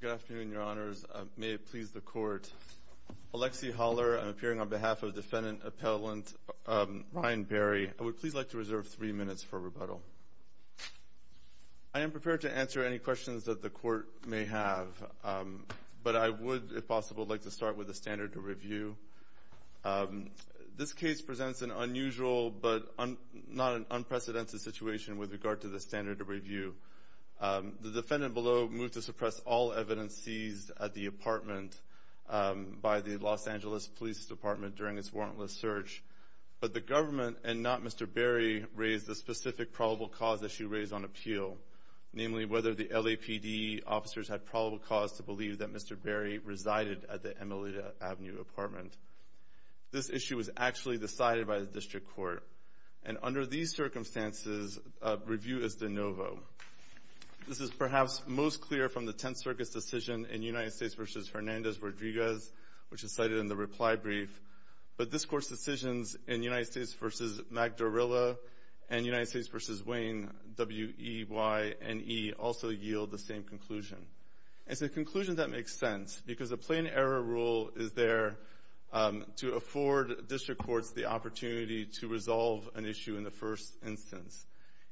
Good afternoon, your honors. May it please the court. Alexi Haller, I'm appearing on behalf of defendant appellant Ryan Barry. I would please like to reserve three minutes for rebuttal. I am prepared to answer any questions that the court may have, but I would, if possible, like to start with the standard of review. This case presents an unusual, but not an unprecedented situation with regard to the standard of review. The defendant below moved to suppress all evidence seized at the apartment by the Los Angeles Police Department during its warrantless search, but the government, and not Mr. Barry, raised a specific probable cause issue raised on appeal, namely whether the LAPD officers had probable cause to believe that Mr. Barry resided at the Emilita Avenue apartment. This issue was actually decided by the district court, and under these circumstances, review is de novo. This is perhaps most clear from the Tenth Circus decision in United States v. Hernandez-Rodriguez, which is cited in the reply brief, but this court's decisions in United States v. Magdarella and United States v. Wayne, W-E-Y-N-E, also yield the same conclusion. It's a conclusion that makes sense, because a plain error rule is there to afford district courts the opportunity to resolve an issue in the first instance.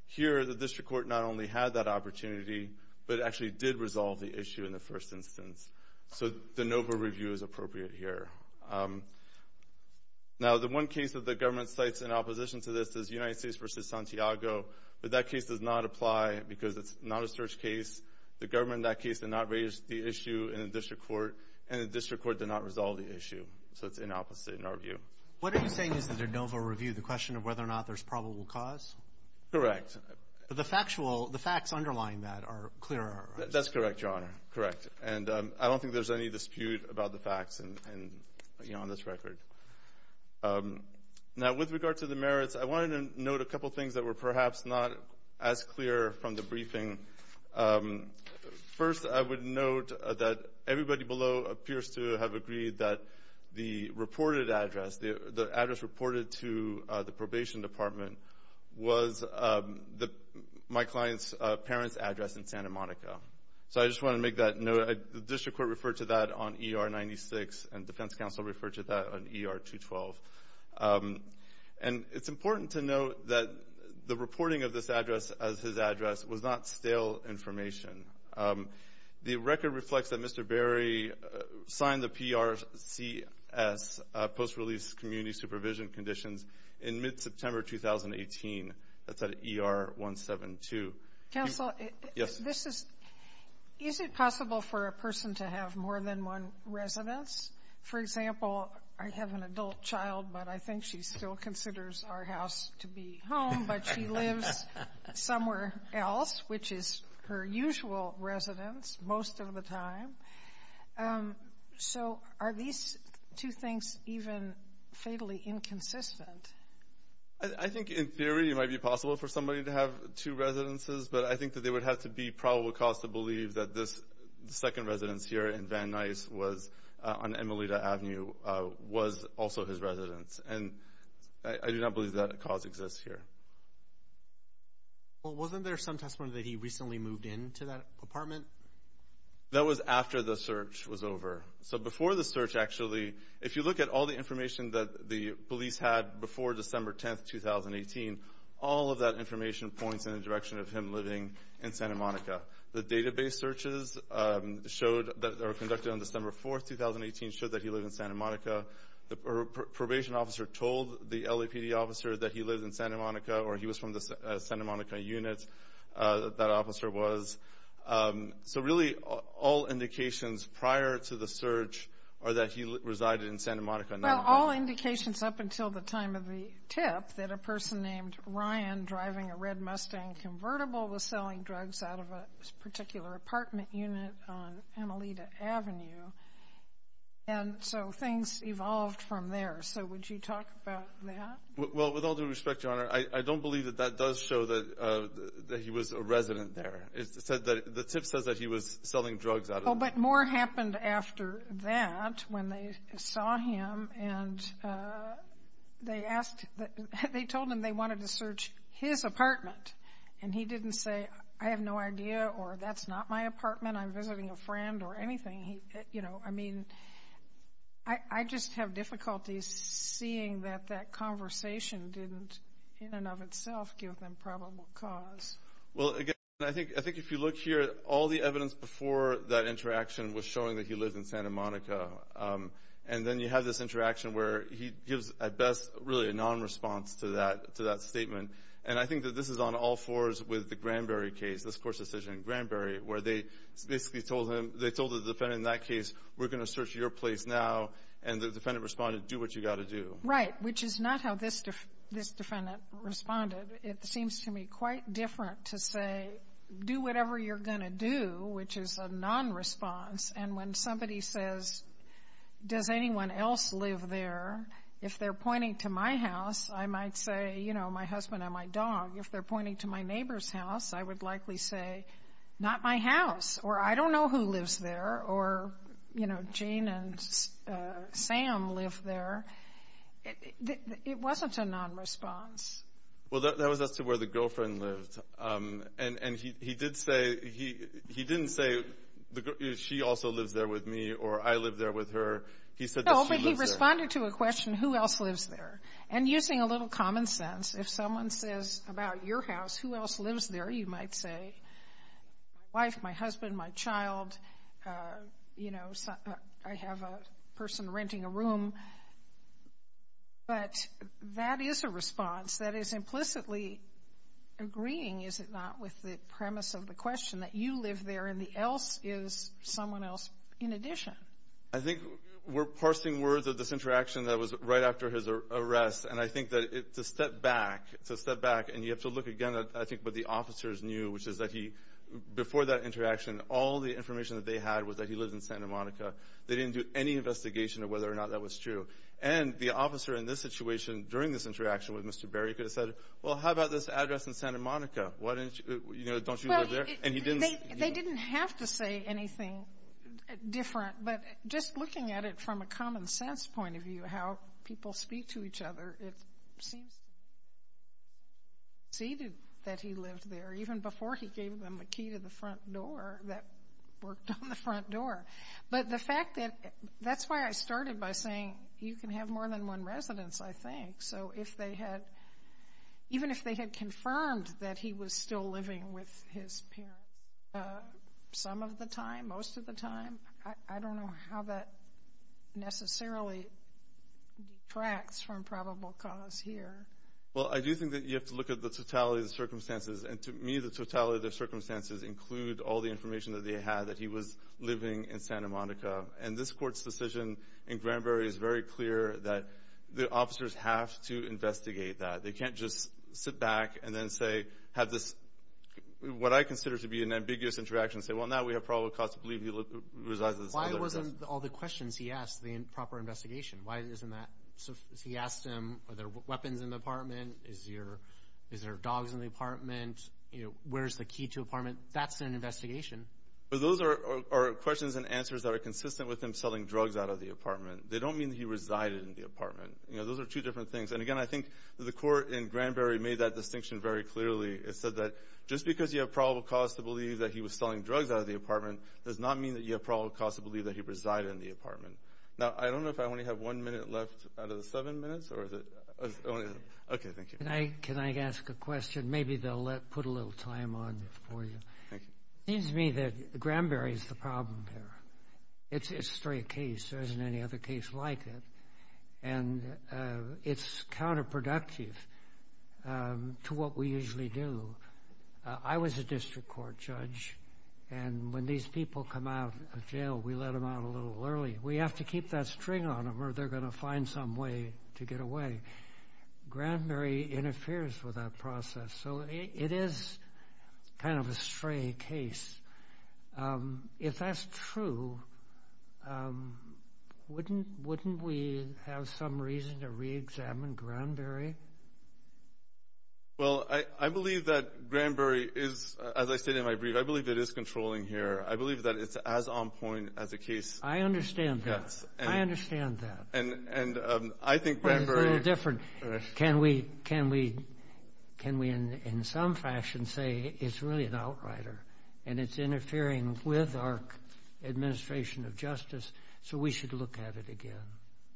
Here, the district court not only had that opportunity, but actually did resolve the issue in the first instance, so de novo review is appropriate here. Now, the one case that the government cites in opposition to this is United States v. Santiago, but that case does not apply because it's not a search case. The government in that case did not raise the issue in the district court, and the district court did not resolve the issue, so it's inopposite in our view. What are you saying is the de novo review, the question of whether or not there's probable cause? Correct. But the factual, the facts underlying that are clearer. That's correct, Your Honor. Correct. And I don't think there's any dispute about the facts and, you know, on this record. Now, with regard to the merits, I wanted to note a couple things that were perhaps not as clear from the briefing. First, I would note that everybody below appears to have agreed that the reported address, the address reported to the probation department, was my client's parents' address in Santa Monica. So I just want to make that note. The district court referred to that on ER 96, and defense counsel referred to that on ER 212. And it's important to note that the reporting of this address as his address was not stale information. The record reflects that Mr. Berry signed the PRCS, post-release community supervision conditions, in mid-September 2018. That's at ER 172. Counsel, this is, is it possible for a person to have more than one residence? For example, I have an adult child, but I think she still considers our house to be home, but she lives somewhere else, which is her usual residence most of the time. So are these two things even fatally inconsistent? I think in theory it might be possible for somebody to have two residences, but I think that there would have to be probable cause to believe that this second residence here in Van Nuys on Emilita Avenue was also his residence. And I do not believe that cause exists here. Well, wasn't there some testimony that he recently moved into that apartment? That was after the search was over. So before the search, actually, if you look at all the information that the police had before December 10, 2018, all of that information points in the direction of him living in Santa Monica. The database searches that were conducted on December 4, 2018, showed that he lived in Santa Monica. The probation officer told the LAPD officer that he lived in Santa Monica, or he was from the Santa Monica unit that officer was. So really all indications prior to the search are that he resided in Santa Monica. Well, all indications up until the time of the tip that a person named Ryan driving a red Mustang convertible was selling drugs out of a particular apartment unit on Emilita Avenue, and so things evolved from there. So would you talk about that? Well, with all due respect, Your Honor, I don't believe that that does show that he was a resident there. The tip says that he was selling drugs out of the apartment. Oh, but more happened after that when they saw him, and they told him they wanted to search his apartment, and he didn't say, I have no idea or that's not my apartment, I'm visiting a friend or anything. I mean, I just have difficulties seeing that that conversation didn't in and of itself give them probable cause. Well, again, I think if you look here, all the evidence before that interaction was showing that he lived in Santa Monica, and then you have this interaction where he gives, at best, really a nonresponse to that statement. And I think that this is on all fours with the Granberry case, this court's decision in Granberry, where they basically told him, they told the defendant in that case, we're going to search your place now, and the defendant responded, do what you got to do. Right, which is not how this defendant responded. It seems to me quite different to say, do whatever you're going to do, which is a nonresponse. And when somebody says, does anyone else live there, if they're pointing to my house, I might say, you know, my husband and my dog. If they're pointing to my neighbor's house, I would likely say, not my house, or I don't know who lives there, or, you know, Jane and Sam live there. It wasn't a nonresponse. Well, that was as to where the girlfriend lived. And he did say, he didn't say, she also lives there with me, or I live there with her. He said that she lives there. No, but he responded to a question, who else lives there? And using a little common sense, if someone says about your house, who else lives there, you might say, my wife, my husband, my child, you know, I have a person renting a room. But that is a response that is implicitly agreeing, is it not, with the premise of the question that you live there and the else is someone else in addition. I think we're parsing words of this interaction that was right after his arrest. And I think that it's a step back. It's a step back, and you have to look again at, I think, what the officers knew, which is that he, before that interaction, all the information that they had was that he lived in Santa Monica. They didn't do any investigation of whether or not that was true. And the officer in this situation during this interaction with Mr. Berry could have said, well, how about this address in Santa Monica? Don't you live there? And he didn't. They didn't have to say anything different. But just looking at it from a common sense point of view, how people speak to each other, it seems that he lived there even before he gave them a key to the front door that worked on the front door. But the fact that that's why I started by saying you can have more than one residence, I think. So even if they had confirmed that he was still living with his parents some of the time, most of the time, I don't know how that necessarily detracts from probable cause here. Well, I do think that you have to look at the totality of the circumstances. And to me, the totality of the circumstances include all the information that they had that he was living in Santa Monica. And this court's decision in Granberry is very clear that the officers have to investigate that. They can't just sit back and then say, have this, what I consider to be an ambiguous interaction, say, well, now we have probable cause to believe he resides in the Santa Monica residence. Why wasn't all the questions he asked the proper investigation? Why isn't that? He asked them, are there weapons in the apartment? Is there dogs in the apartment? Where is the key to the apartment? That's an investigation. Those are questions and answers that are consistent with him selling drugs out of the apartment. They don't mean that he resided in the apartment. Those are two different things. And, again, I think the court in Granberry made that distinction very clearly. It said that just because you have probable cause to believe that he was selling drugs out of the apartment does not mean that you have probable cause to believe that he resided in the apartment. Now, I don't know if I only have one minute left out of the seven minutes. Okay, thank you. Can I ask a question? Maybe they'll put a little time on it for you. It seems to me that Granberry is the problem here. It's a straight case. There isn't any other case like it. And it's counterproductive to what we usually do. I was a district court judge, and when these people come out of jail, we let them out a little early. We have to keep that string on them or they're going to find some way to get away. Granberry interferes with that process. So it is kind of a stray case. If that's true, wouldn't we have some reason to reexamine Granberry? Well, I believe that Granberry is, as I stated in my brief, I believe it is controlling here. I believe that it's as on point as a case. I understand that. I understand that. And I think Granberry is a little different. Can we in some fashion say it's really an outrider and it's interfering with our administration of justice so we should look at it again?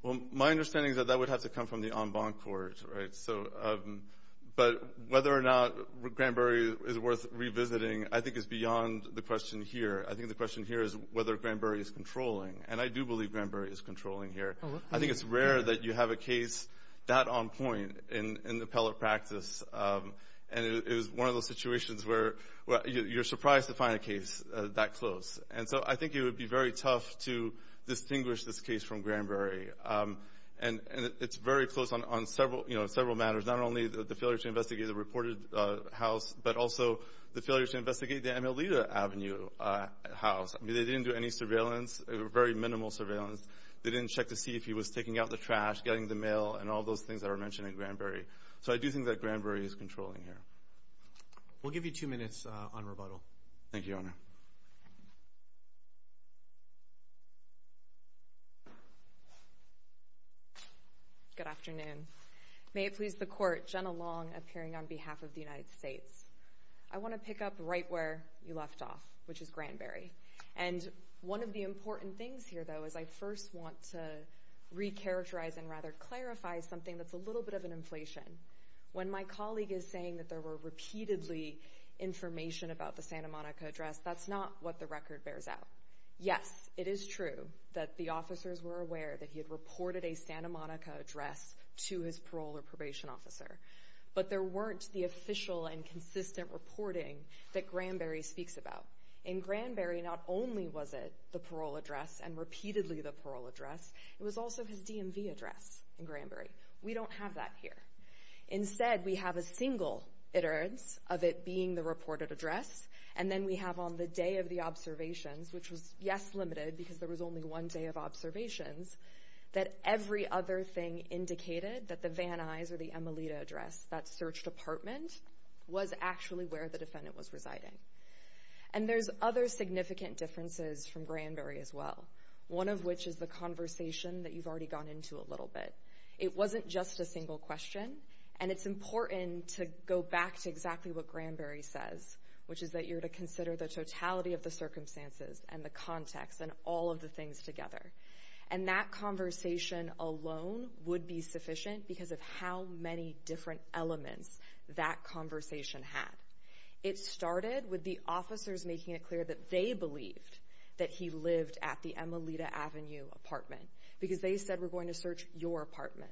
Well, my understanding is that that would have to come from the en banc court, right? But whether or not Granberry is worth revisiting I think is beyond the question here. I think the question here is whether Granberry is controlling, and I do believe Granberry is controlling here. I think it's rare that you have a case that on point in appellate practice, and it is one of those situations where you're surprised to find a case that close. And so I think it would be very tough to distinguish this case from Granberry, and it's very close on several matters, not only the failure to investigate the reported house but also the failure to investigate the Emilita Avenue house. They didn't do any surveillance, very minimal surveillance. They didn't check to see if he was taking out the trash, getting the mail, and all those things that were mentioned in Granberry. So I do think that Granberry is controlling here. We'll give you two minutes on rebuttal. Thank you, Your Honor. Good afternoon. May it please the Court, Jenna Long appearing on behalf of the United States. I want to pick up right where you left off, which is Granberry. And one of the important things here, though, is I first want to recharacterize and rather clarify something that's a little bit of an inflation. When my colleague is saying that there were repeatedly information about the Santa Monica address, that's not what the record bears out. Yes, it is true that the officers were aware that he had reported a Santa Monica address to his parole or probation officer. But there weren't the official and consistent reporting that Granberry speaks about. In Granberry, not only was it the parole address and repeatedly the parole address, it was also his DMV address in Granberry. We don't have that here. Instead, we have a single iterance of it being the reported address, and then we have on the day of the observations, which was, yes, limited because there was only one day of observations, that every other thing indicated that the Van Nuys or the Emilita address, that search department, was actually where the defendant was residing. And there's other significant differences from Granberry as well, one of which is the conversation that you've already gone into a little bit. It wasn't just a single question, and it's important to go back to exactly what Granberry says, which is that you're to consider the totality of the circumstances and the context and all of the things together. And that conversation alone would be sufficient because of how many different elements that conversation had. It started with the officers making it clear that they believed that he lived at the Emilita Avenue apartment because they said, we're going to search your apartment.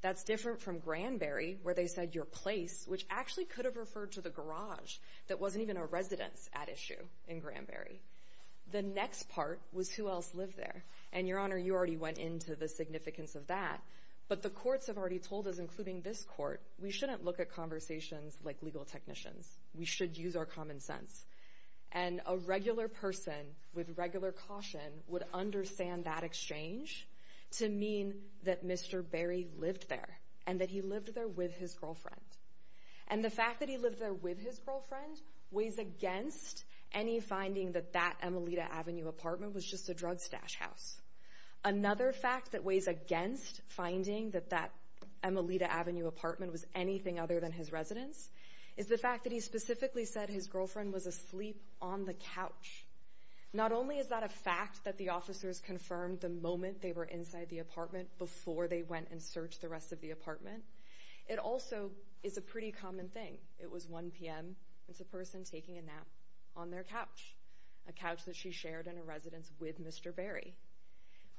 That's different from Granberry where they said your place, which actually could have referred to the garage that wasn't even a residence at issue in Granberry. The next part was who else lived there. And, Your Honor, you already went into the significance of that, but the courts have already told us, including this court, we shouldn't look at conversations like legal technicians. We should use our common sense. And a regular person with regular caution would understand that exchange to mean that Mr. Berry lived there and that he lived there with his girlfriend. And the fact that he lived there with his girlfriend weighs against any finding that that Emilita Avenue apartment was just a drug stash house. Another fact that weighs against finding that that Emilita Avenue apartment was anything other than his residence is the fact that he specifically said his girlfriend was asleep on the couch. Not only is that a fact that the officers confirmed the moment they were inside the apartment before they went and searched the rest of the apartment, it also is a pretty common thing. It was 1 p.m. and it's a person taking a nap on their couch, a couch that she shared in a residence with Mr. Berry.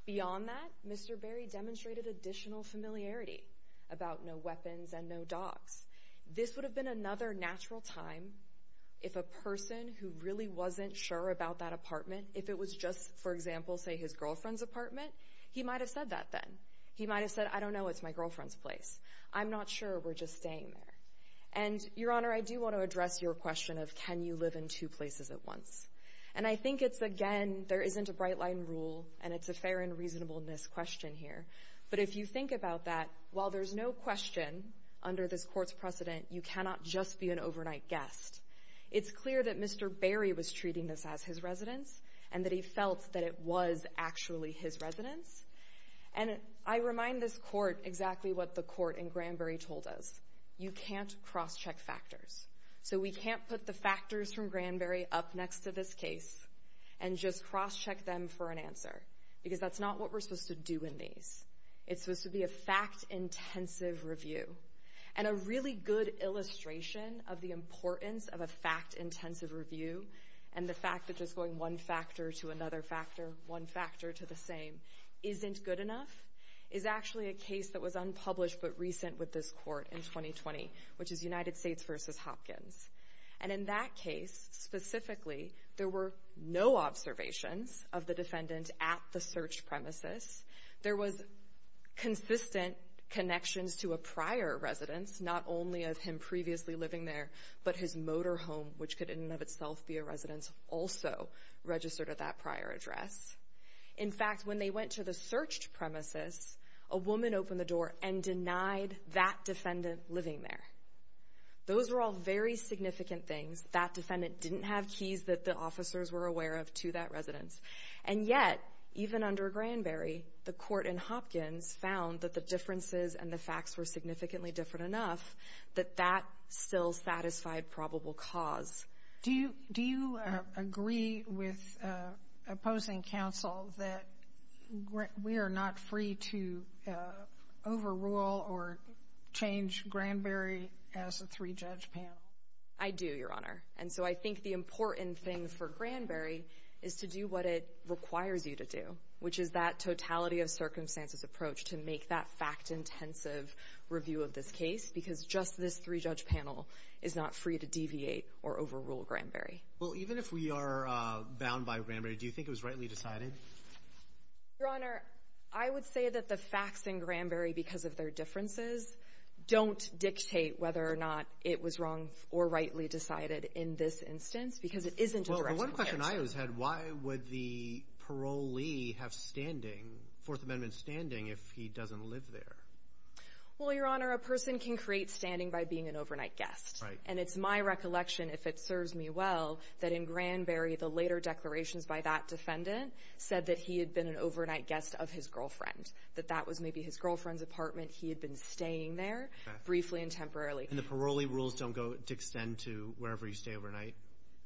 Beyond that, Mr. Berry demonstrated additional familiarity about no weapons and no dogs. This would have been another natural time if a person who really wasn't sure about that apartment, if it was just, for example, say his girlfriend's apartment, he might have said that then. He might have said, I don't know. It's my girlfriend's place. I'm not sure. We're just staying there. And, Your Honor, I do want to address your question of can you live in two places at once. And I think it's, again, there isn't a bright-line rule, and it's a fair and reasonableness question here. But if you think about that, while there's no question under this court's precedent, you cannot just be an overnight guest. It's clear that Mr. Berry was treating this as his residence and that he felt that it was actually his residence. And I remind this court exactly what the court in Granberry told us. You can't cross-check factors. So we can't put the factors from Granberry up next to this case and just cross-check them for an answer because that's not what we're supposed to do in these. It's supposed to be a fact-intensive review. And a really good illustration of the importance of a fact-intensive review and the fact that just going one factor to another factor, one factor to the same, isn't good enough, is actually a case that was unpublished but recent with this court in 2020, which is United States v. Hopkins. And in that case, specifically, there were no observations of the defendant at the searched premises. There was consistent connections to a prior residence, not only of him previously living there, but his motor home, which could in and of itself be a residence, also registered at that prior address. In fact, when they went to the searched premises, a woman opened the door and denied that defendant living there. Those were all very significant things. That defendant didn't have keys that the officers were aware of to that residence. And yet, even under Granberry, the court in Hopkins found that the differences and the facts were significantly different enough that that still satisfied probable cause. Do you agree with opposing counsel that we are not free to overrule or change Granberry as a three-judge panel? I do, Your Honor. And so I think the important thing for Granberry is to do what it requires you to do, which is that totality-of-circumstances approach to make that fact-intensive review of this case because just this three-judge panel is not free to deviate or overrule Granberry. Well, even if we are bound by Granberry, do you think it was rightly decided? Your Honor, I would say that the facts in Granberry because of their differences don't dictate whether or not it was wrong or rightly decided in this instance because it isn't a direct comparison. Well, the one question I always had, why would the parolee have standing, Fourth Amendment standing, if he doesn't live there? Well, Your Honor, a person can create standing by being an overnight guest. Right. And it's my recollection, if it serves me well, that in Granberry, the later declarations by that defendant said that he had been an overnight guest of his girlfriend, that that was maybe his girlfriend's apartment. He had been staying there briefly and temporarily. And the parolee rules don't go to extend to wherever you stay overnight?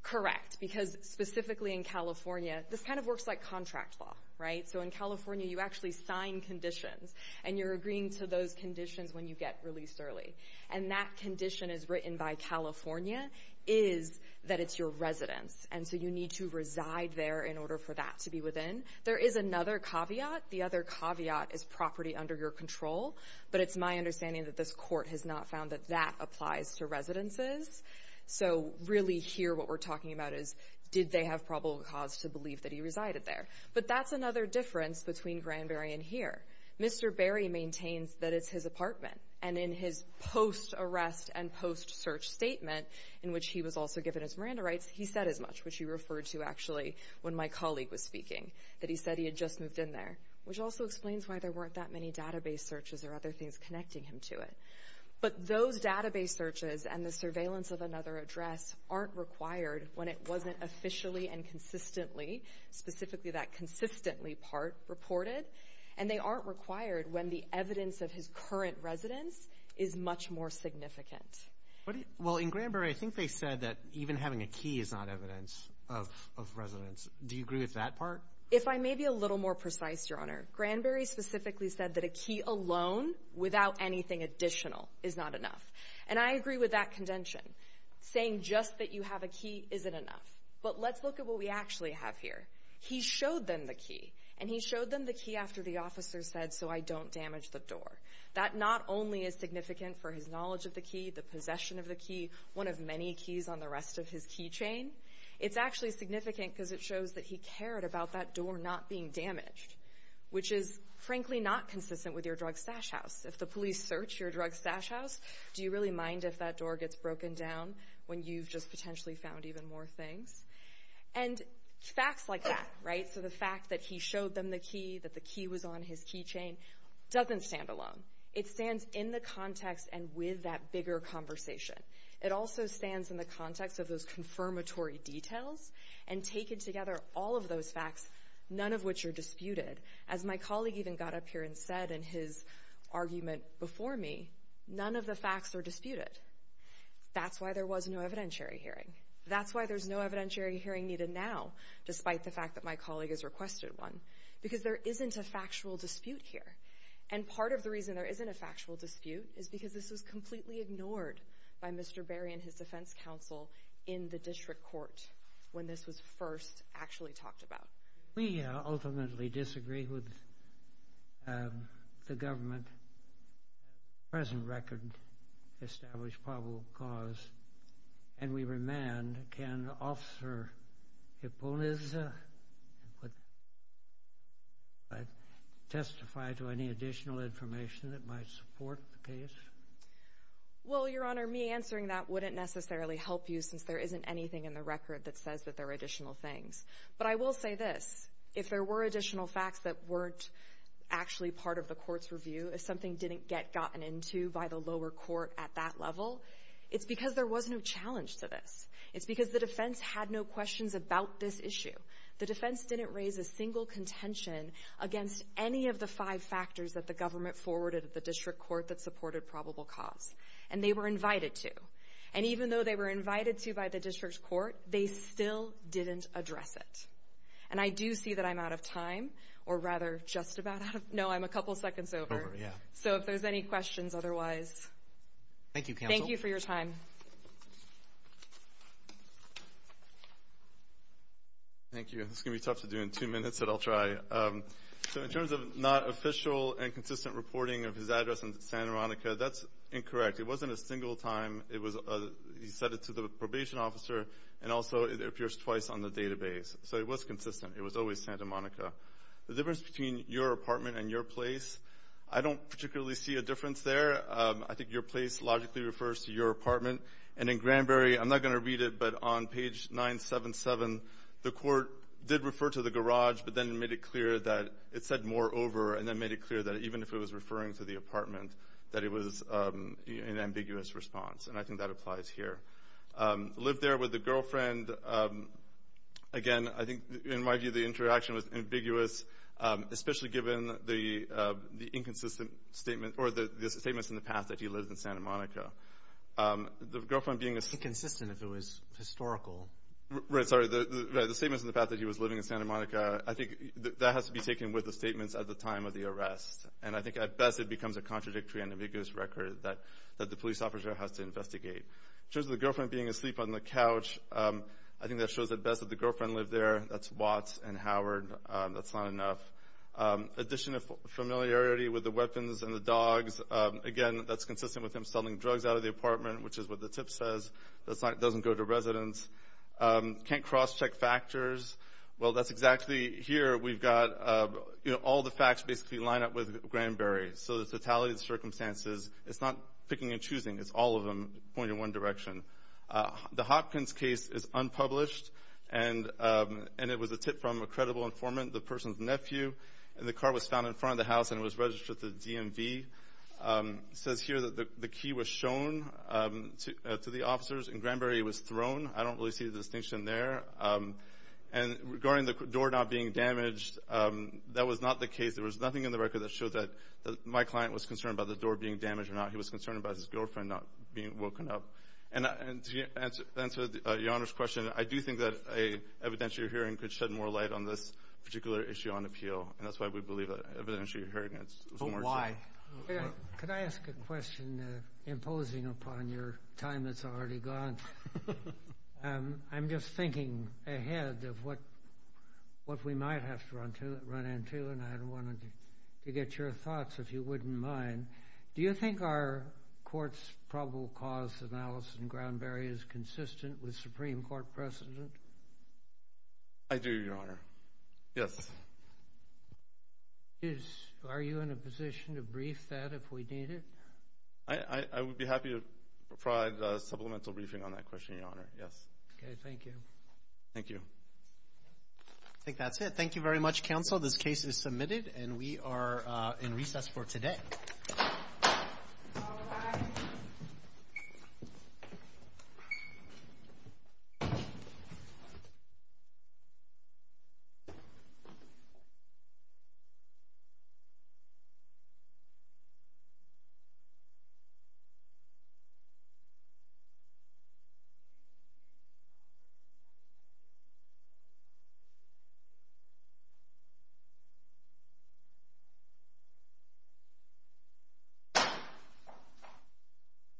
Correct, because specifically in California, this kind of works like contract law, right? So in California, you actually sign conditions, and you're agreeing to those conditions when you get released early. And that condition is written by California, is that it's your residence, and so you need to reside there in order for that to be within. There is another caveat. The other caveat is property under your control, but it's my understanding that this court has not found that that applies to residences. So really here what we're talking about is, did they have probable cause to believe that he resided there? But that's another difference between Granberry and here. Mr. Berry maintains that it's his apartment, and in his post-arrest and post-search statement, in which he was also given his Miranda rights, he said as much, which he referred to actually when my colleague was speaking, that he said he had just moved in there, which also explains why there weren't that many database searches or other things connecting him to it. But those database searches and the surveillance of another address aren't required when it wasn't officially and consistently, specifically that consistently part, reported. And they aren't required when the evidence of his current residence is much more significant. Well, in Granberry, I think they said that even having a key is not evidence of residence. Do you agree with that part? If I may be a little more precise, Your Honor, Granberry specifically said that a key alone without anything additional is not enough. And I agree with that contention, saying just that you have a key isn't enough. But let's look at what we actually have here. He showed them the key, and he showed them the key after the officer said, so I don't damage the door. That not only is significant for his knowledge of the key, the possession of the key, one of many keys on the rest of his key chain, it's actually significant because it shows that he cared about that door not being damaged, which is frankly not consistent with your drug stash house. If the police search your drug stash house, do you really mind if that door gets broken down when you've just potentially found even more things? And facts like that, right? So the fact that he showed them the key, that the key was on his key chain, doesn't stand alone. It stands in the context and with that bigger conversation. It also stands in the context of those confirmatory details and taking together all of those facts, none of which are disputed. As my colleague even got up here and said in his argument before me, none of the facts are disputed. That's why there was no evidentiary hearing. That's why there's no evidentiary hearing needed now, despite the fact that my colleague has requested one, because there isn't a factual dispute here. And part of the reason there isn't a factual dispute is because this was completely ignored by Mr. Berry and his defense counsel in the district court when this was first actually talked about. We ultimately disagree with the government. The present record established probable cause, and we remand. Can Officer Eponizza testify to any additional information that might support the case? Well, Your Honor, me answering that wouldn't necessarily help you, since there isn't anything in the record that says that there are additional things. But I will say this. If there were additional facts that weren't actually part of the court's review, if something didn't get gotten into by the lower court at that level, it's because there was no challenge to this. It's because the defense had no questions about this issue. The defense didn't raise a single contention against any of the five factors that the government forwarded at the district court that supported probable cause. And they were invited to. And even though they were invited to by the district court, they still didn't address it. And I do see that I'm out of time, or rather just about out of time. No, I'm a couple seconds over. So if there's any questions otherwise, thank you for your time. Thank you. This is going to be tough to do in two minutes, but I'll try. So in terms of not official and consistent reporting of his address in Santa Monica, that's incorrect. It wasn't a single time. He said it to the probation officer, and also it appears twice on the database. So it was consistent. It was always Santa Monica. The difference between your apartment and your place, I don't particularly see a difference there. I think your place logically refers to your apartment. And in Granberry, I'm not going to read it, but on page 977, the court did refer to the garage, but then made it clear that it said more over and then made it clear that even if it was referring to the apartment, that it was an ambiguous response. And I think that applies here. Lived there with a girlfriend. Again, I think in my view the interaction was ambiguous, especially given the inconsistent statement or the statements in the past that he lived in Santa Monica. The girlfriend being a... Inconsistent if it was historical. Right. Sorry. The statements in the past that he was living in Santa Monica, I think that has to be taken with the statements at the time of the arrest. And I think at best it becomes a contradictory and ambiguous record that the police officer has to investigate. In terms of the girlfriend being asleep on the couch, I think that shows at best that the girlfriend lived there. That's Watts and Howard. That's not enough. Addition of familiarity with the weapons and the dogs. Again, that's consistent with him selling drugs out of the apartment, which is what the tip says. That doesn't go to residents. Can't cross-check factors. Well, that's exactly here. We've got all the facts basically line up with Granberry. So the totality of the circumstances, it's not picking and choosing. It's all of them pointing in one direction. The Hopkins case is unpublished, and it was a tip from a credible informant, the person's nephew. And the car was found in front of the house, and it was registered to the DMV. It says here that the key was shown to the officers, and Granberry was thrown. I don't really see the distinction there. And regarding the door not being damaged, that was not the case. There was nothing in the record that showed that my client was concerned about the door being damaged or not. He was concerned about his girlfriend not being woken up. And to answer your Honor's question, I do think that an evidentiary hearing could shed more light on this particular issue on appeal, and that's why we believe that evidentiary hearing is more important. But why? Could I ask a question imposing upon your time that's already gone? I'm just thinking ahead of what we might have to run into, and I wanted to get your thoughts, if you wouldn't mind. Do you think our court's probable cause analysis in Granberry is consistent with Supreme Court precedent? I do, Your Honor. Yes. Are you in a position to brief that if we need it? I would be happy to provide supplemental briefing on that question, Your Honor. Yes. Okay. Thank you. Thank you. I think that's it. Thank you very much, Counsel. This case is submitted, and we are in recess for today. All rise. The case is submitted.